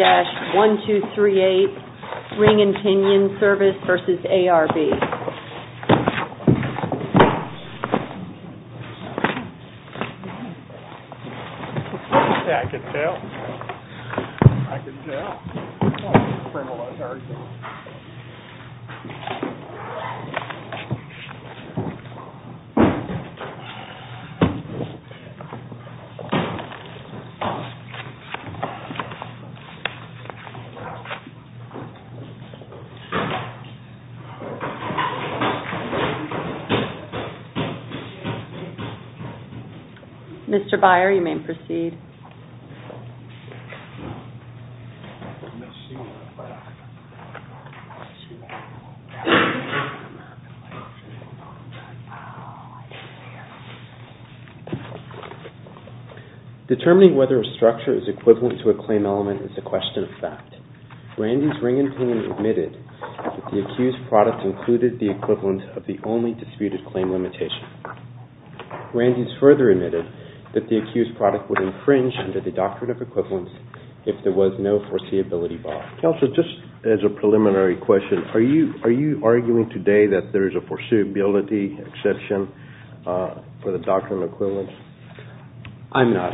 1-238 RING & PINION SERVICE v. ARB Mr. Beyer, you may proceed. Determining whether a structure is equivalent to a claim element is a question of fact. Randy's RING & PINION admitted that the accused product included the equivalent of the only if there was no foreseeability bar. Are you arguing today that there is a foreseeability exception for the doctrine of equivalence? I am not.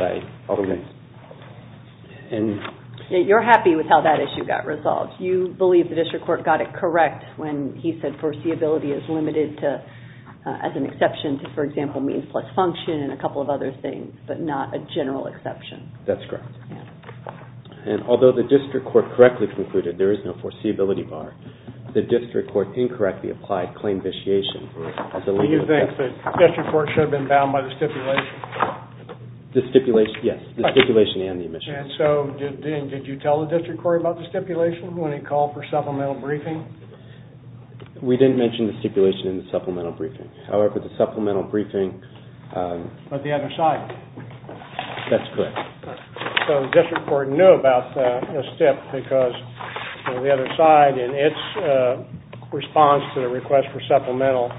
You are happy with how that issue got resolved. You believe the district court got it correct when he said and a couple of other things, but not a general exception. That's correct. Although the district court correctly concluded there is no foreseeability bar, the district court incorrectly applied claim vitiation. Do you think the district court should have been bound by the stipulation? Yes, the stipulation and the omission. Did you tell the district court about the stipulation when he called for supplemental briefing? We didn't mention the stipulation in the supplemental briefing. But the other side? That's correct. So the district court knew about the stipulation because the other side, in its response to the request for supplemental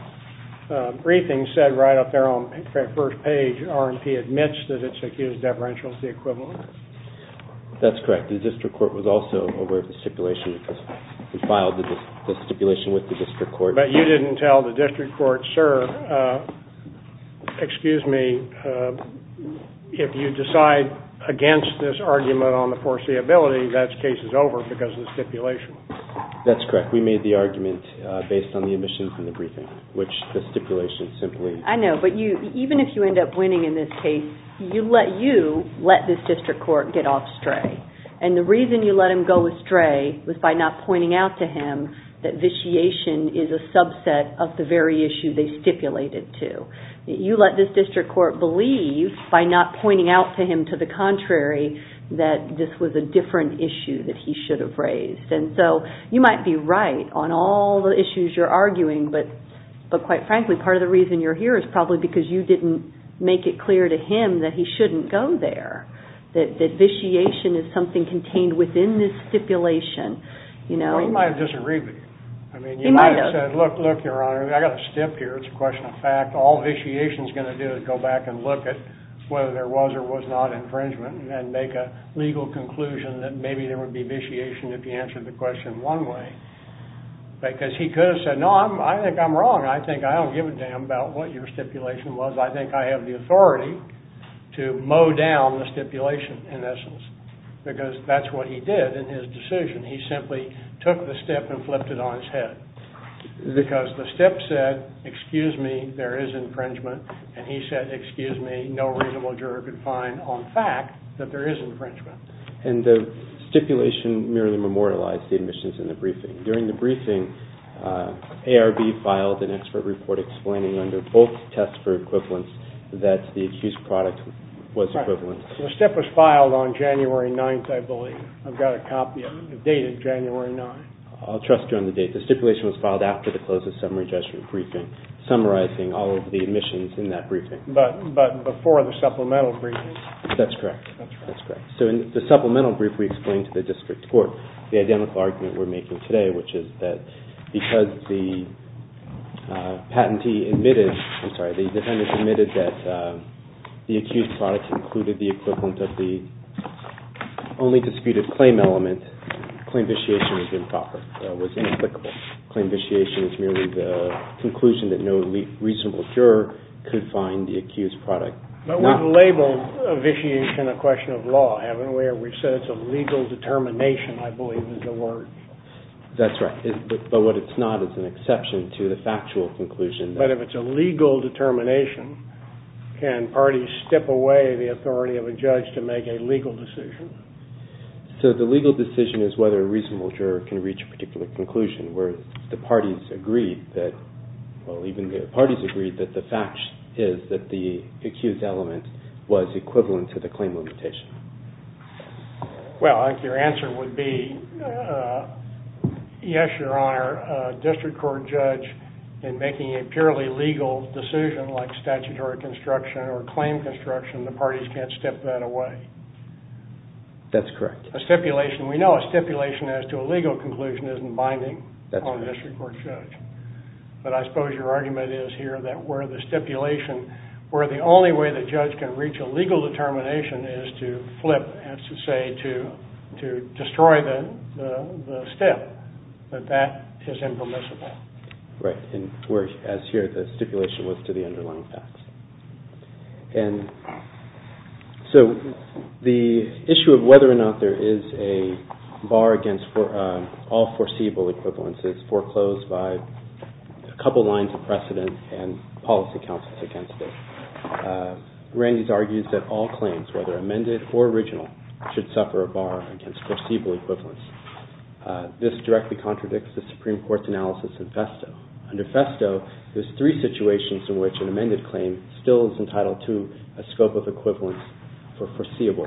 briefing, said right up there on the first page that R&P admits that the accused differential is the equivalent. That's correct. The district court was also aware of the stipulation. We filed the stipulation with the district court. But you didn't tell the district court, sir, excuse me, if you decide against this argument on the foreseeability, that case is over because of the stipulation. That's correct. We made the argument based on the omission from the briefing, which the stipulation simply... I know, but even if you end up winning in this case, you let this district court get off stray. And the reason you let him go astray was by not pointing out to him that vitiation is a subset of the very issue they stipulated to. You let this district court believe, by not pointing out to him to the contrary, that this was a different issue that he should have raised. And so you might be right on all the issues you're arguing, but quite frankly, part of the reason you're here is probably because you didn't make it clear to him that he shouldn't go there, that vitiation is something contained within this stipulation. Well, he might have disagreed with you. He might have. I mean, you might have said, look, look, Your Honor, I got a stip here. It's a question of fact. All vitiation is going to do is go back and look at whether there was or was not infringement and make a legal conclusion that maybe there would be vitiation if you answered the question one way. Because he could have said, no, I think I'm wrong. I think I don't give a damn about what your stipulation was. I think I have the authority to mow down the stipulation, in essence, because that's what he did in his decision. He simply took the stip and flipped it on his head because the stip said, excuse me, there is infringement, and he said, excuse me, no reasonable juror could find on fact that there is infringement. And the stipulation merely memorialized the admissions in the briefing. During the briefing, ARB filed an expert report explaining under both tests for equivalence that the accused product was equivalent. The stip was filed on January 9th, I believe. I've got a copy. It dated January 9th. I'll trust you on the date. The stipulation was filed after the close of summary judgment briefing, summarizing all of the admissions in that briefing. But before the supplemental briefing? That's correct. That's correct. So in the supplemental brief we explained to the district court the identical argument we're making today, which is that because the patentee admitted, I'm sorry, the defendant admitted that the accused product included the equivalent of the only disputed claim element, claim vitiation was inapplicable. Claim vitiation is merely the conclusion that no reasonable juror could find the accused product. But we've labeled vitiation a question of law, haven't we? We've said it's a legal determination, I believe, is the word. That's right. But what it's not is an exception to the factual conclusion. But if it's a legal determination, can parties step away the authority of a judge to make a legal decision? So the legal decision is whether a reasonable juror can reach a particular conclusion, where the parties agree that the fact is that the accused element was equivalent to the claim limitation. Well, I think your answer would be yes, Your Honor. Where a district court judge, in making a purely legal decision like statutory construction or claim construction, the parties can't step that away. That's correct. A stipulation, we know a stipulation as to a legal conclusion isn't binding on a district court judge. But I suppose your argument is here that where the stipulation, where the only way the judge can reach a legal determination is to flip, as you say, to destroy the step, that that is impermissible. Right. As here, the stipulation was to the underlying facts. And so the issue of whether or not there is a bar against all foreseeable equivalences foreclosed by a couple lines of precedent and policy counsels against it. Randy's argues that all claims, whether amended or original, should suffer a bar against foreseeable equivalence. This directly contradicts the Supreme Court's analysis in Festo. Under Festo, there's three situations in which an amended claim still is entitled to a scope of equivalence for foreseeable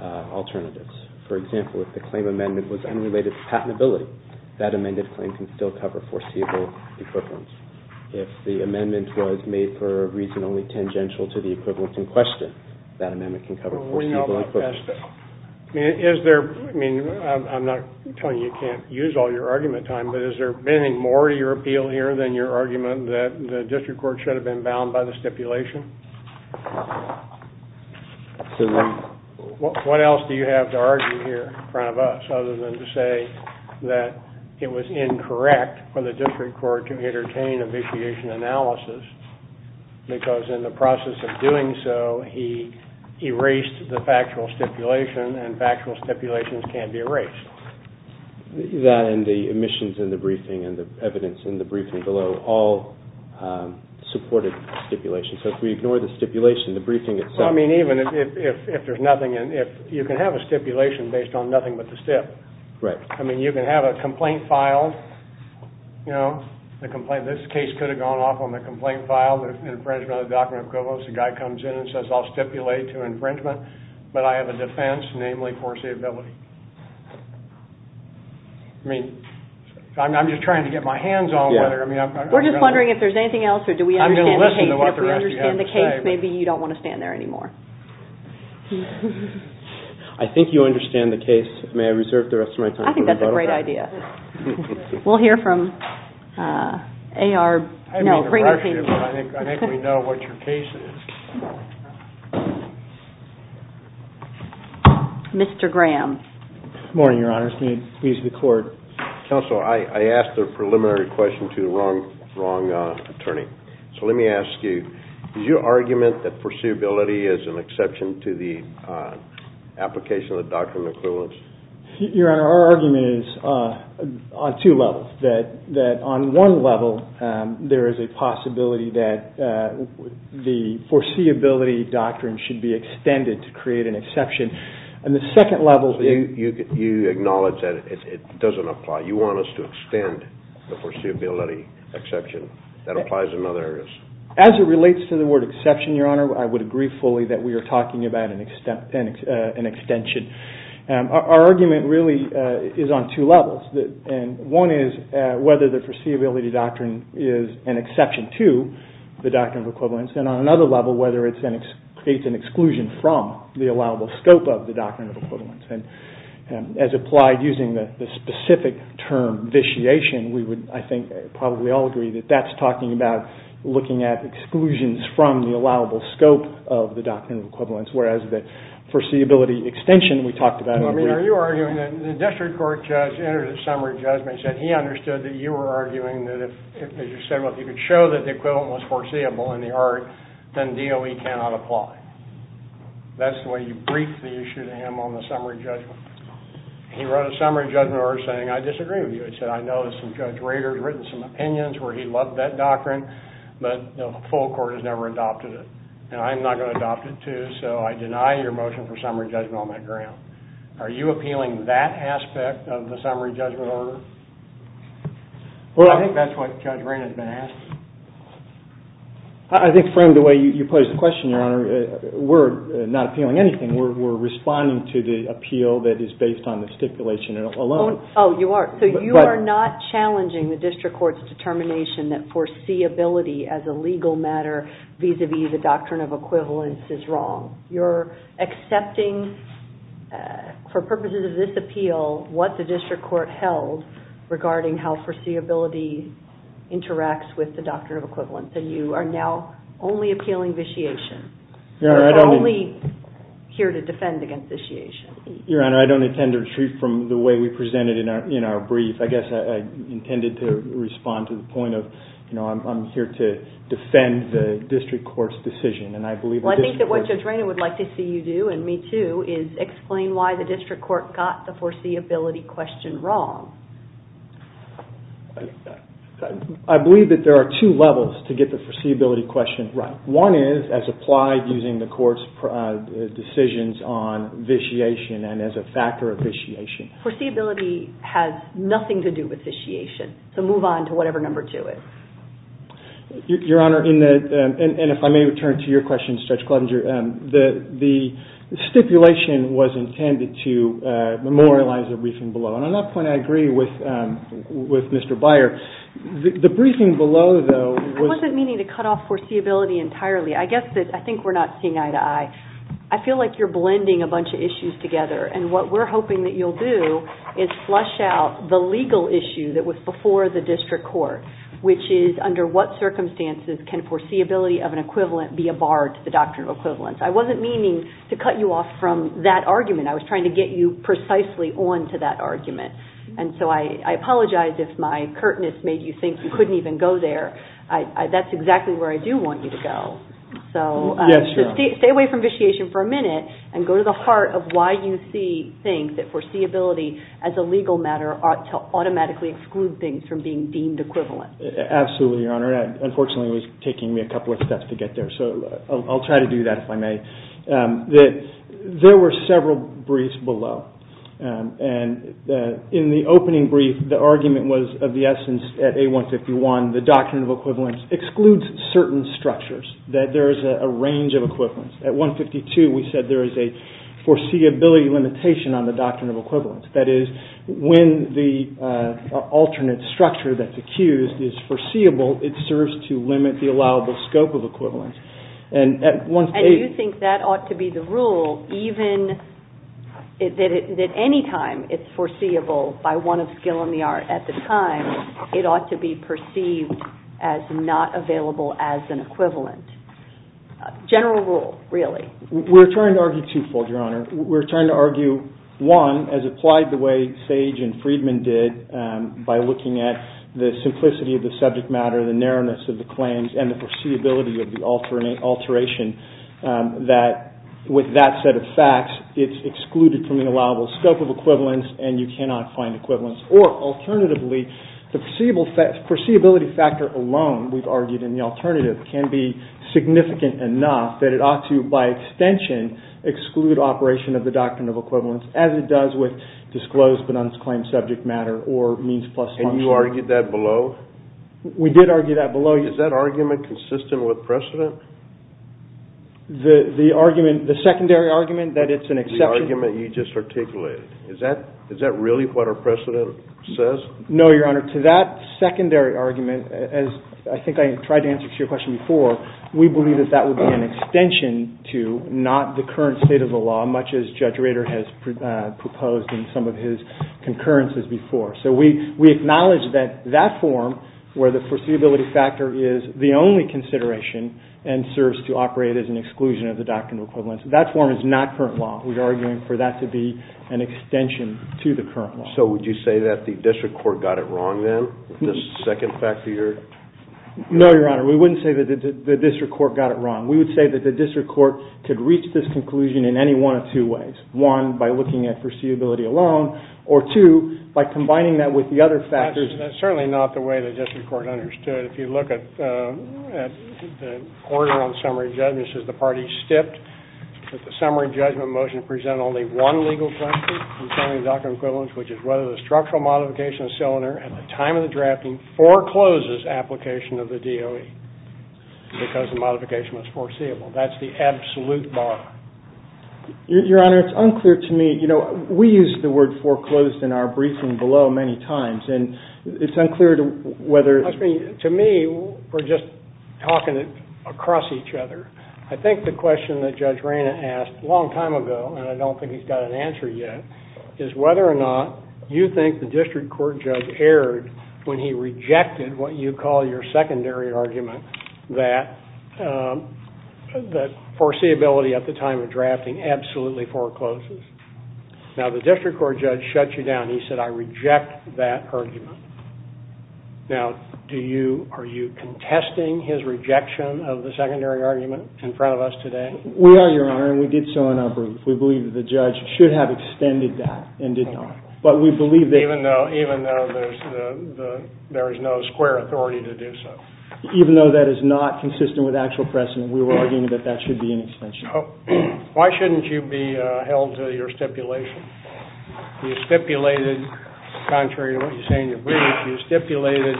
alternatives. For example, if the claim amendment was unrelated to patentability, that amended claim can still cover foreseeable equivalence. If the amendment was made for a reason only tangential to the equivalence in question, that amendment can cover foreseeable equivalence. I'm not telling you you can't use all your argument time, but is there any more to your appeal here than your argument that the district court should have been bound by the stipulation? What else do you have to argue here in front of us other than to say that it was incorrect for the district court to entertain a vitiation analysis because in the process of doing so, he erased the factual stipulation and factual stipulations can't be erased? That and the omissions in the briefing and the evidence in the briefing below all supported stipulation. So if we ignore the stipulation, the briefing itself. I mean, even if there's nothing in it, you can have a stipulation based on nothing but the stip. Right. I mean, you can have a complaint file, you know, this case could have gone off on the complaint file, the infringement of the document of equivalence, the guy comes in and says, I'll stipulate to infringement, but I have a defense, namely foreseeability. I mean, I'm just trying to get my hands on whether... We're just wondering if there's anything else or do we understand the case. I'm going to listen to what the rest of you have to say. If we understand the case, maybe you don't want to stand there anymore. I think you understand the case. May I reserve the rest of my time? I think that's a great idea. We'll hear from A.R. I didn't mean to rush you, but I think we know what your case is. Mr. Graham. Good morning, Your Honor. It's me. Please record. Counsel, I asked a preliminary question to the wrong attorney. So let me ask you, is your argument that foreseeability is an exception to the application of the document of equivalence? Your Honor, our argument is on two levels, that on one level there is a possibility that the foreseeability doctrine should be extended to create an exception, and the second level... So you acknowledge that it doesn't apply. You want us to extend the foreseeability exception. That applies in other areas. As it relates to the word exception, Your Honor, I would agree fully that we are talking about an extension. Our argument really is on two levels. One is whether the foreseeability doctrine is an exception to the document of equivalence, and on another level whether it creates an exclusion from the allowable scope of the document of equivalence. As applied using the specific term, vitiation, we would, I think, probably all agree that that's talking about looking at exclusions from the allowable scope of the document of equivalence, whereas the foreseeability extension we talked about... Well, I mean, are you arguing that the district court judge entered a summary judgment and said he understood that you were arguing that if, as you said, if you could show that the equivalent was foreseeable in the art, then DOE cannot apply. That's the way you briefed the issue to him on the summary judgment. He wrote a summary judgment order saying, I disagree with you. He said, I know that some Judge Rader has written some opinions where he loved that doctrine, but the full court has never adopted it, and I'm not going to adopt it, too, so I deny your motion for summary judgment on that ground. Are you appealing that aspect of the summary judgment order? Well, I think that's what Judge Rader has been asking. I think from the way you posed the question, Your Honor, we're not appealing anything. We're responding to the appeal that is based on the stipulation alone. Oh, you are. So you are not challenging the district court's determination that foreseeability as a legal matter vis-a-vis the doctrine of equivalence is wrong. You're accepting for purposes of this appeal what the district court held regarding how foreseeability interacts with the doctrine of equivalence, and you are now only appealing vitiation. You're only here to defend against vitiation. Your Honor, I don't intend to retreat from the way we presented in our brief. I guess I intended to respond to the point of, you know, I'm here to defend the district court's decision. Well, I think that what Judge Rader would like to see you do, and me, too, is explain why the district court got the foreseeability question wrong. I believe that there are two levels to get the foreseeability question right. One is as applied using the court's decisions on vitiation and as a factor of vitiation. Foreseeability has nothing to do with vitiation. So move on to whatever number two is. Your Honor, and if I may return to your question, Judge Gleisinger, the stipulation was intended to memorialize the briefing below, and on that point I agree with Mr. Beyer. The briefing below, though, was... I think we're not seeing eye to eye. I feel like you're blending a bunch of issues together, and what we're hoping that you'll do is flush out the legal issue that was before the district court, which is under what circumstances can foreseeability of an equivalent be a bar to the doctrine of equivalence. I wasn't meaning to cut you off from that argument. I was trying to get you precisely on to that argument, and so I apologize if my curtness made you think you couldn't even go there. That's exactly where I do want you to go. So stay away from vitiation for a minute and go to the heart of why you think that foreseeability as a legal matter ought to automatically exclude things from being deemed equivalent. Absolutely, Your Honor. Unfortunately, it was taking me a couple of steps to get there, so I'll try to do that if I may. There were several briefs below, and in the opening brief the argument was of the essence at A151 the doctrine of equivalence excludes certain structures, that there is a range of equivalence. At A152 we said there is a foreseeability limitation on the doctrine of equivalence. That is, when the alternate structure that's accused is foreseeable, it serves to limit the allowable scope of equivalence. And you think that ought to be the rule, that any time it's foreseeable by one of skill and the art at the time, it ought to be perceived as not available as an equivalent. General rule, really. We're trying to argue two-fold, Your Honor. We're trying to argue, one, as applied the way Sage and Friedman did by looking at the simplicity of the subject matter, the narrowness of the claims, and the foreseeability of the alteration, that with that set of facts, it's excluded from the allowable scope of equivalence, and you cannot find equivalence. Or, alternatively, the foreseeability factor alone, we've argued in the alternative, can be significant enough that it ought to, by extension, exclude operation of the doctrine of equivalence, as it does with disclosed but unclaimed subject matter or means plus function. And you argued that below? We did argue that below. Is that argument consistent with precedent? The argument, the secondary argument, that it's an exception? The argument you just articulated. Is that really what our precedent says? No, Your Honor. To that secondary argument, as I think I tried to answer to your question before, we believe that that would be an extension to not the current state of the law, much as Judge Rader has proposed in some of his concurrences before. So we acknowledge that that form, where the foreseeability factor is the only consideration and serves to operate as an exclusion of the doctrine of equivalence, that form is not current law. We're arguing for that to be an extension to the current law. So would you say that the district court got it wrong then, this second factor here? No, Your Honor. We wouldn't say that the district court got it wrong. We would say that the district court could reach this conclusion in any one of two ways. One, by looking at foreseeability alone, or two, by combining that with the other factors. That's certainly not the way the district court understood it. If you look at the order on summary judgments, this is the part he skipped, that the summary judgment motion present only one legal question concerning the doctrine of equivalence, which is whether the structural modification of the cylinder at the time of the drafting forecloses application of the DOE because the modification was foreseeable. That's the absolute bar. Your Honor, it's unclear to me, you know, we use the word foreclosed in our briefing below many times, and it's unclear to whether... To me, we're just talking it across each other. I think the question that Judge Rayna asked a long time ago, and I don't think he's got an answer yet, is whether or not you think the district court judge erred when he rejected what you call your secondary argument that foreseeability at the time of drafting absolutely forecloses. Now, the district court judge shut you down. He said, I reject that argument. Now, are you contesting his rejection of the secondary argument in front of us today? We are, Your Honor, and we did so in our brief. We believe that the judge should have extended that and did not. But we believe that... Even though there is no square authority to do so. Even though that is not consistent with actual precedent, we were arguing that that should be an extension. Why shouldn't you be held to your stipulation? You stipulated, contrary to what you say in your brief, you stipulated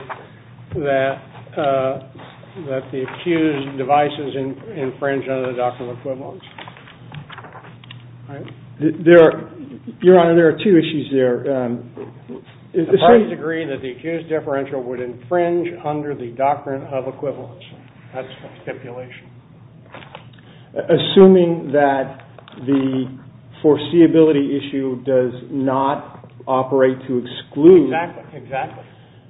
that the accused devices infringe under the doctrine of equivalence. Your Honor, there are two issues there. The parties agree that the accused differential would infringe under the doctrine of equivalence. That's the stipulation. Assuming that the foreseeability issue does not operate to exclude... Exactly. Exactly.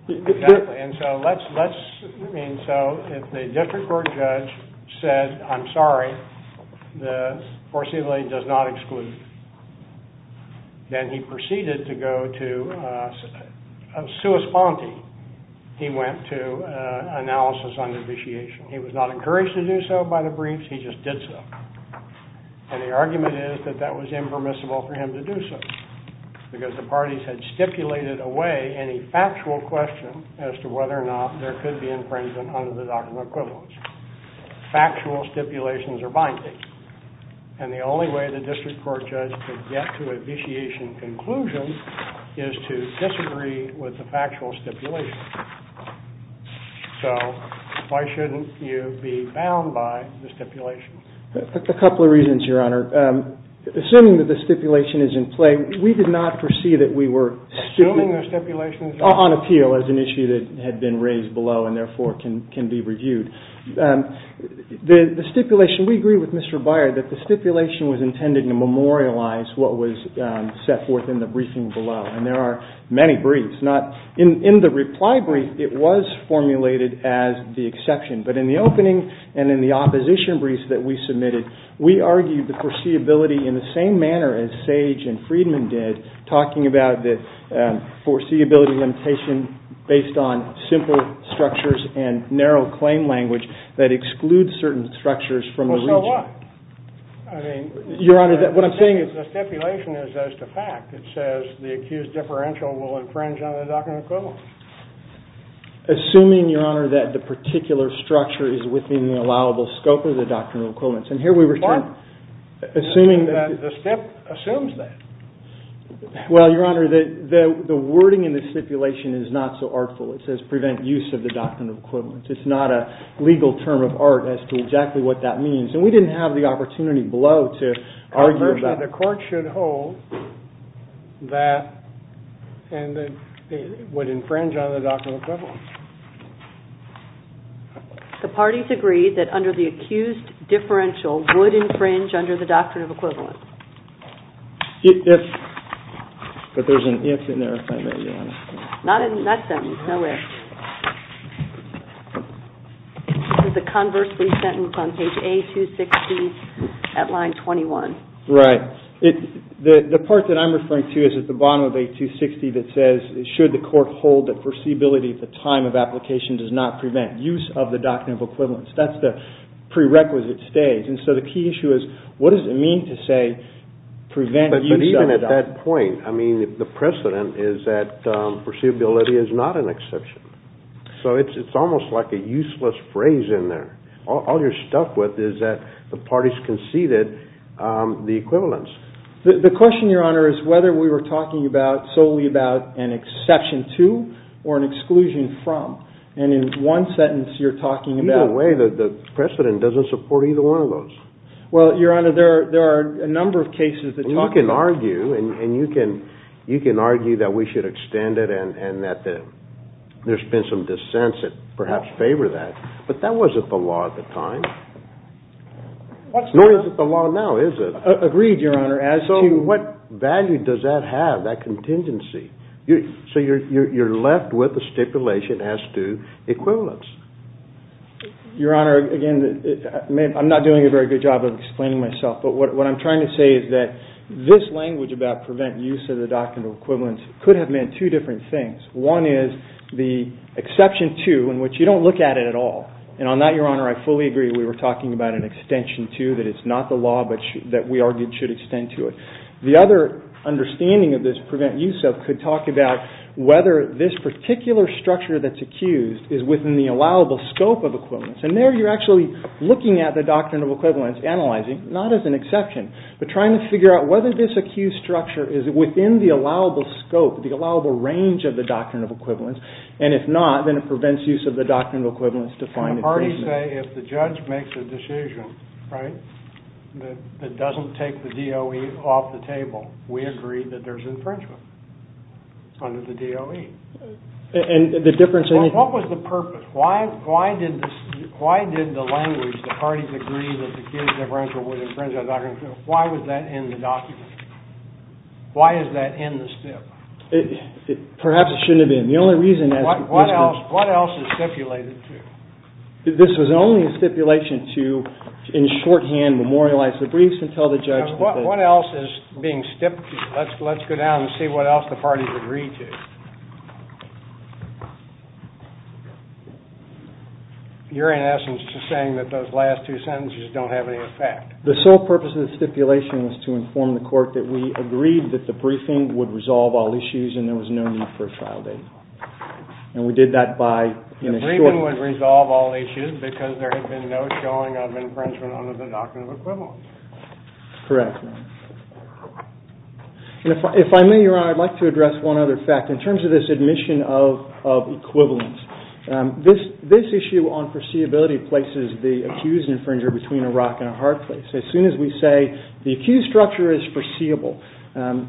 Exactly. And so let's... I mean, so if the district court judge said, I'm sorry, the foreseeability does not exclude, then he proceeded to go to a sua sponte. He went to analysis under vitiation. He was not encouraged to do so by the briefs. He just did so. And the argument is that that was impermissible for him to do so because the parties had stipulated away any factual question as to whether or not there could be infringement under the doctrine of equivalence. Factual stipulations are binding. And the only way the district court judge could get to a vitiation conclusion is to disagree with the factual stipulation. So why shouldn't you be bound by the stipulation? A couple of reasons, Your Honor. Assuming that the stipulation is in play, we did not foresee that we were... Assuming the stipulation is in play? ...on appeal as an issue that had been raised below and therefore can be reviewed. The stipulation, we agree with Mr. Beyer, that the stipulation was intended to memorialize what was set forth in the briefing below. And there are many briefs. In the reply brief, it was formulated as the exception. But in the opening and in the opposition briefs that we submitted, we argued the foreseeability in the same manner as Sage and Friedman did, talking about the foreseeability limitation based on simple structures and narrow claim language that excludes certain structures from the region. Well, so what? Your Honor, what I'm saying is... The stipulation is just a fact. It says the accused differential will infringe on the doctrinal equivalence. Assuming, Your Honor, that the particular structure is within the allowable scope of the doctrinal equivalence. And here we return... What? Assuming that the stip assumes that. Well, Your Honor, the wording in the stipulation is not so artful. It says prevent use of the doctrinal equivalence. It's not a legal term of art as to exactly what that means. And we didn't have the opportunity below to argue about... that it would infringe on the doctrinal equivalence. The parties agreed that under the accused differential would infringe under the doctrinal equivalence. If... But there's an if in there, if I may, Your Honor. Not in that sentence, no if. It's a conversely sentence on page A-216 at line 21. Right. The part that I'm referring to is at the bottom of A-260 that says, should the court hold that foreseeability at the time of application does not prevent use of the doctrinal equivalence. That's the prerequisite stage. And so the key issue is what does it mean to say prevent use of the doctrinal... But even at that point, I mean, the precedent is that foreseeability is not an exception. So it's almost like a useless phrase in there. All you're stuck with is that the parties conceded the equivalence. The question, Your Honor, is whether we were talking about... solely about an exception to or an exclusion from. And in one sentence you're talking about... Either way, the precedent doesn't support either one of those. Well, Your Honor, there are a number of cases that talk about... You can argue and you can argue that we should extend it and that there's been some dissents that perhaps favor that. But that wasn't the law at the time. Nor is it the law now, is it? Agreed, Your Honor. So what value does that have, that contingency? So you're left with a stipulation as to equivalence. Your Honor, again, I'm not doing a very good job of explaining myself, but what I'm trying to say is that this language about prevent use of the doctrinal equivalence could have meant two different things. One is the exception to, in which you don't look at it at all. And on that, Your Honor, I fully agree we were talking about an extension to, that it's not the law, but that we argued should extend to it. The other understanding of this prevent use of could talk about whether this particular structure that's accused is within the allowable scope of equivalence. And there you're actually looking at the doctrinal equivalence, analyzing, not as an exception, but trying to figure out whether this accused structure is within the allowable scope, the allowable range of the doctrinal equivalence. And if not, then it prevents use of the doctrinal equivalence to find the treatment. The parties say if the judge makes a decision, right, that doesn't take the DOE off the table, we agree that there's infringement under the DOE. And the difference in... What was the purpose? Why did the language, the parties agree that the accused differential would infringe on doctrinal equivalence, why was that in the document? Why is that in the stip? Perhaps it shouldn't have been. The only reason... What else is stipulated to? This was only a stipulation to, in shorthand, memorialize the briefs and tell the judge... What else is being stipped? Let's go down and see what else the parties agree to. You're, in essence, just saying that those last two sentences don't have any effect. The sole purpose of the stipulation was to inform the court that we agreed that the briefing would resolve all issues and there was no need for a trial date. And we did that by... The briefing would resolve all issues because there had been no showing of infringement under the doctrine of equivalence. Correct. If I may, Your Honor, I'd like to address one other fact. In terms of this admission of equivalence, this issue on foreseeability places the accused infringer between a rock and a hard place. As soon as we say the accused structure is foreseeable,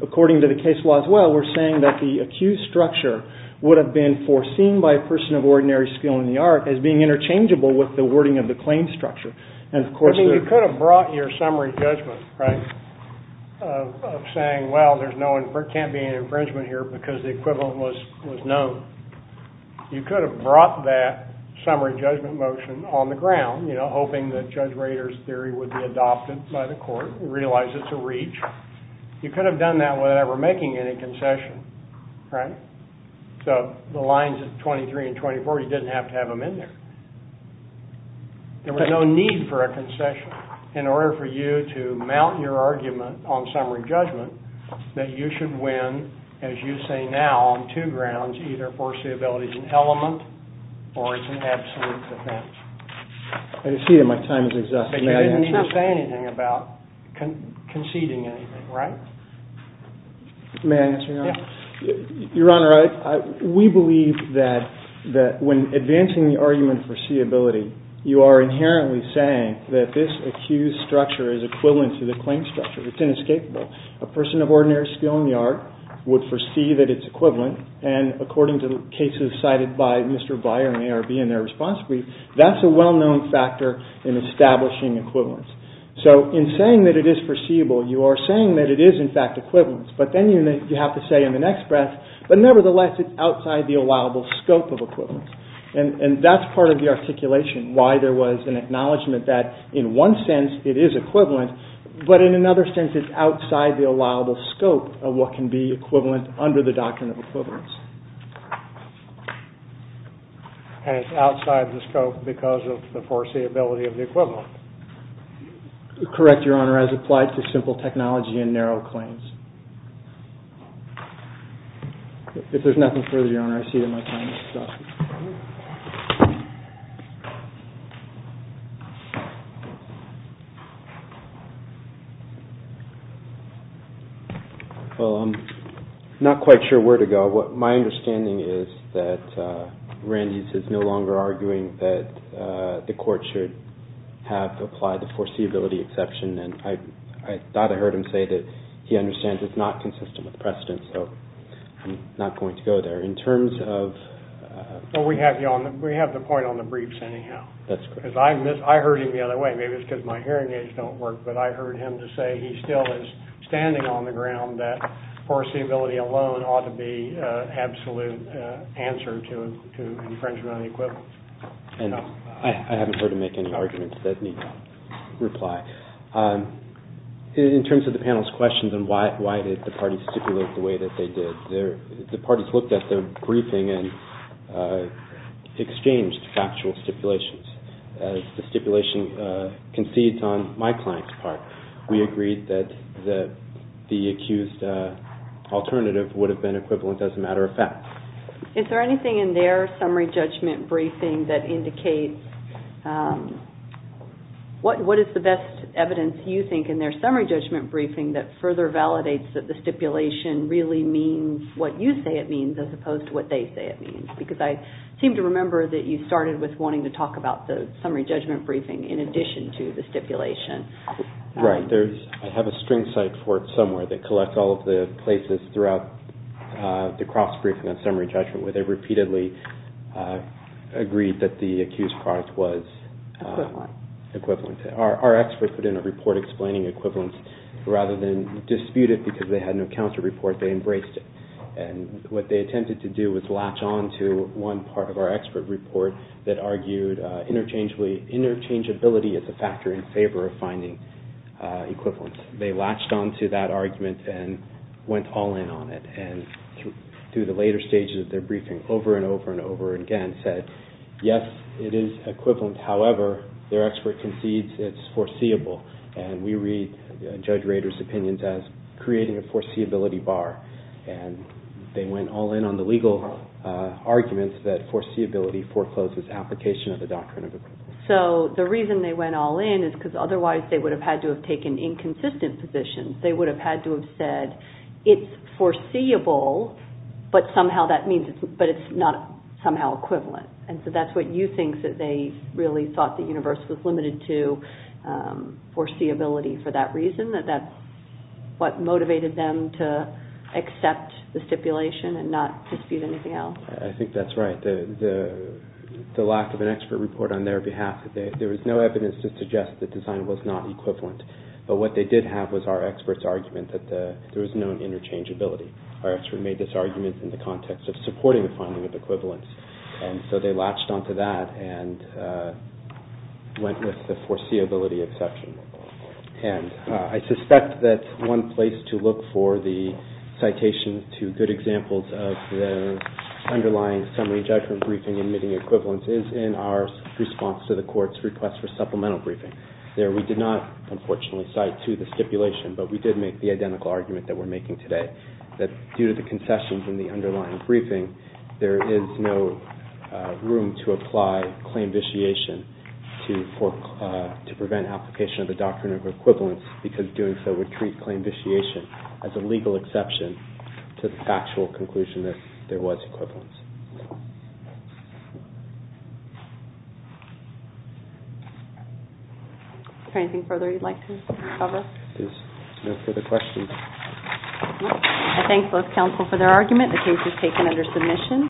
according to the case law as well, we're saying that the accused structure would have been foreseen by a person of ordinary skill in the art as being interchangeable with the wording of the claim structure. I mean, you could have brought your summary judgment, right, of saying, well, there can't be an infringement here because the equivalent was known. You could have brought that summary judgment motion on the ground, you know, hoping that Judge Rader's theory would be adopted by the court, realize it's a reach. You could have done that without ever making any concession, right? So the lines of 23 and 24, you didn't have to have them in there. There was no need for a concession. In order for you to mount your argument on summary judgment that you should win, as you say now, on two grounds, either foreseeability is an element or it's an absolute defense. I can see that my time is exhausted. You didn't need to say anything about conceding anything, right? May I answer your question? Your Honor, we believe that when advancing the argument for seeability, you are inherently saying that this accused structure is equivalent to the claim structure. It's inescapable. A person of ordinary skill in the art would foresee that it's equivalent, and according to cases cited by Mr. Byer and ARB in their response brief, that's a well-known factor in establishing equivalence. So in saying that it is foreseeable, you are saying that it is, in fact, equivalent. But then you have to say in the next breath, but nevertheless it's outside the allowable scope of equivalence. And that's part of the articulation, why there was an acknowledgment that in one sense it is equivalent, but in another sense it's outside the allowable scope of what can be equivalent under the doctrine of equivalence. And it's outside the scope because of the foreseeability of the equivalent. Correct, Your Honor, as applied to simple technology and narrow claims. If there's nothing further, Your Honor, I see that my time has stopped. Well, I'm not quite sure where to go. My understanding is that Randy is no longer arguing that the court should have applied the foreseeability exception, and I thought I heard him say that he understands it's not consistent with precedent, so I'm not going to go there. In terms of... Well, we have the point on the briefs anyhow. That's correct. I heard him the other way. Maybe it's because my hearing aids don't work, but I heard him to say he still is standing on the ground that foreseeability alone ought to be an absolute answer to infringement on equivalence. I haven't heard him make any arguments that need reply. In terms of the panel's questions on why did the parties stipulate the way that they did, the parties looked at the briefing and exchanged factual stipulations. As the stipulation concedes on my client's part, we agreed that the accused alternative would have been equivalent as a matter of fact. Is there anything in their summary judgment briefing that indicates... What is the best evidence, you think, in their summary judgment briefing that further validates that the stipulation really means what you say it means as opposed to what they say it means? Because I seem to remember that you started with wanting to talk about the summary judgment briefing in addition to the stipulation. Right. I have a string site for it somewhere. It collects all of the places throughout the cross-briefing on summary judgment where they repeatedly agreed that the accused product was... Equivalent. ...equivalent. Our experts put in a report explaining equivalence. Rather than dispute it because they had no accounts to report, they embraced it. And what they attempted to do was latch on to one part of our expert report that argued interchangeability is a factor in favor of finding equivalence. They latched on to that argument and went all in on it. And through the later stages of their briefing, over and over and over again, said, yes, it is equivalent. However, their expert concedes it's foreseeable. And we read Judge Rader's opinions as creating a foreseeability bar. And they went all in on the legal arguments that foreseeability forecloses application of the doctrine of equivalence. So the reason they went all in is because otherwise they would have had to have taken inconsistent positions. They would have had to have said, it's foreseeable, but somehow that means it's not somehow equivalent. And so that's what you think that they really thought the universe was limited to, foreseeability, for that reason, that that's what motivated them to accept the stipulation and not dispute anything else? I think that's right. The lack of an expert report on their behalf, there was no evidence to suggest that design was not equivalent. But what they did have was our expert's argument that there was no interchangeability. Our expert made this argument in the context of supporting the finding of equivalence. And so they latched on to that and went with the foreseeability exception. And I suspect that one place to look for the citation to good examples of the underlying summary judgment briefing and admitting equivalence is in our response to the court's request for supplemental briefing. There we did not, unfortunately, cite to the stipulation, but we did make the identical argument that we're making today, that due to the concessions in the underlying briefing, there is no room to apply claim vitiation to prevent application of the doctrine of equivalence because doing so would treat claim vitiation as a legal exception to the actual conclusion that there was equivalence. Is there anything further you'd like to cover? There's no further questions. I thank both counsel for their argument. The case is taken under submission.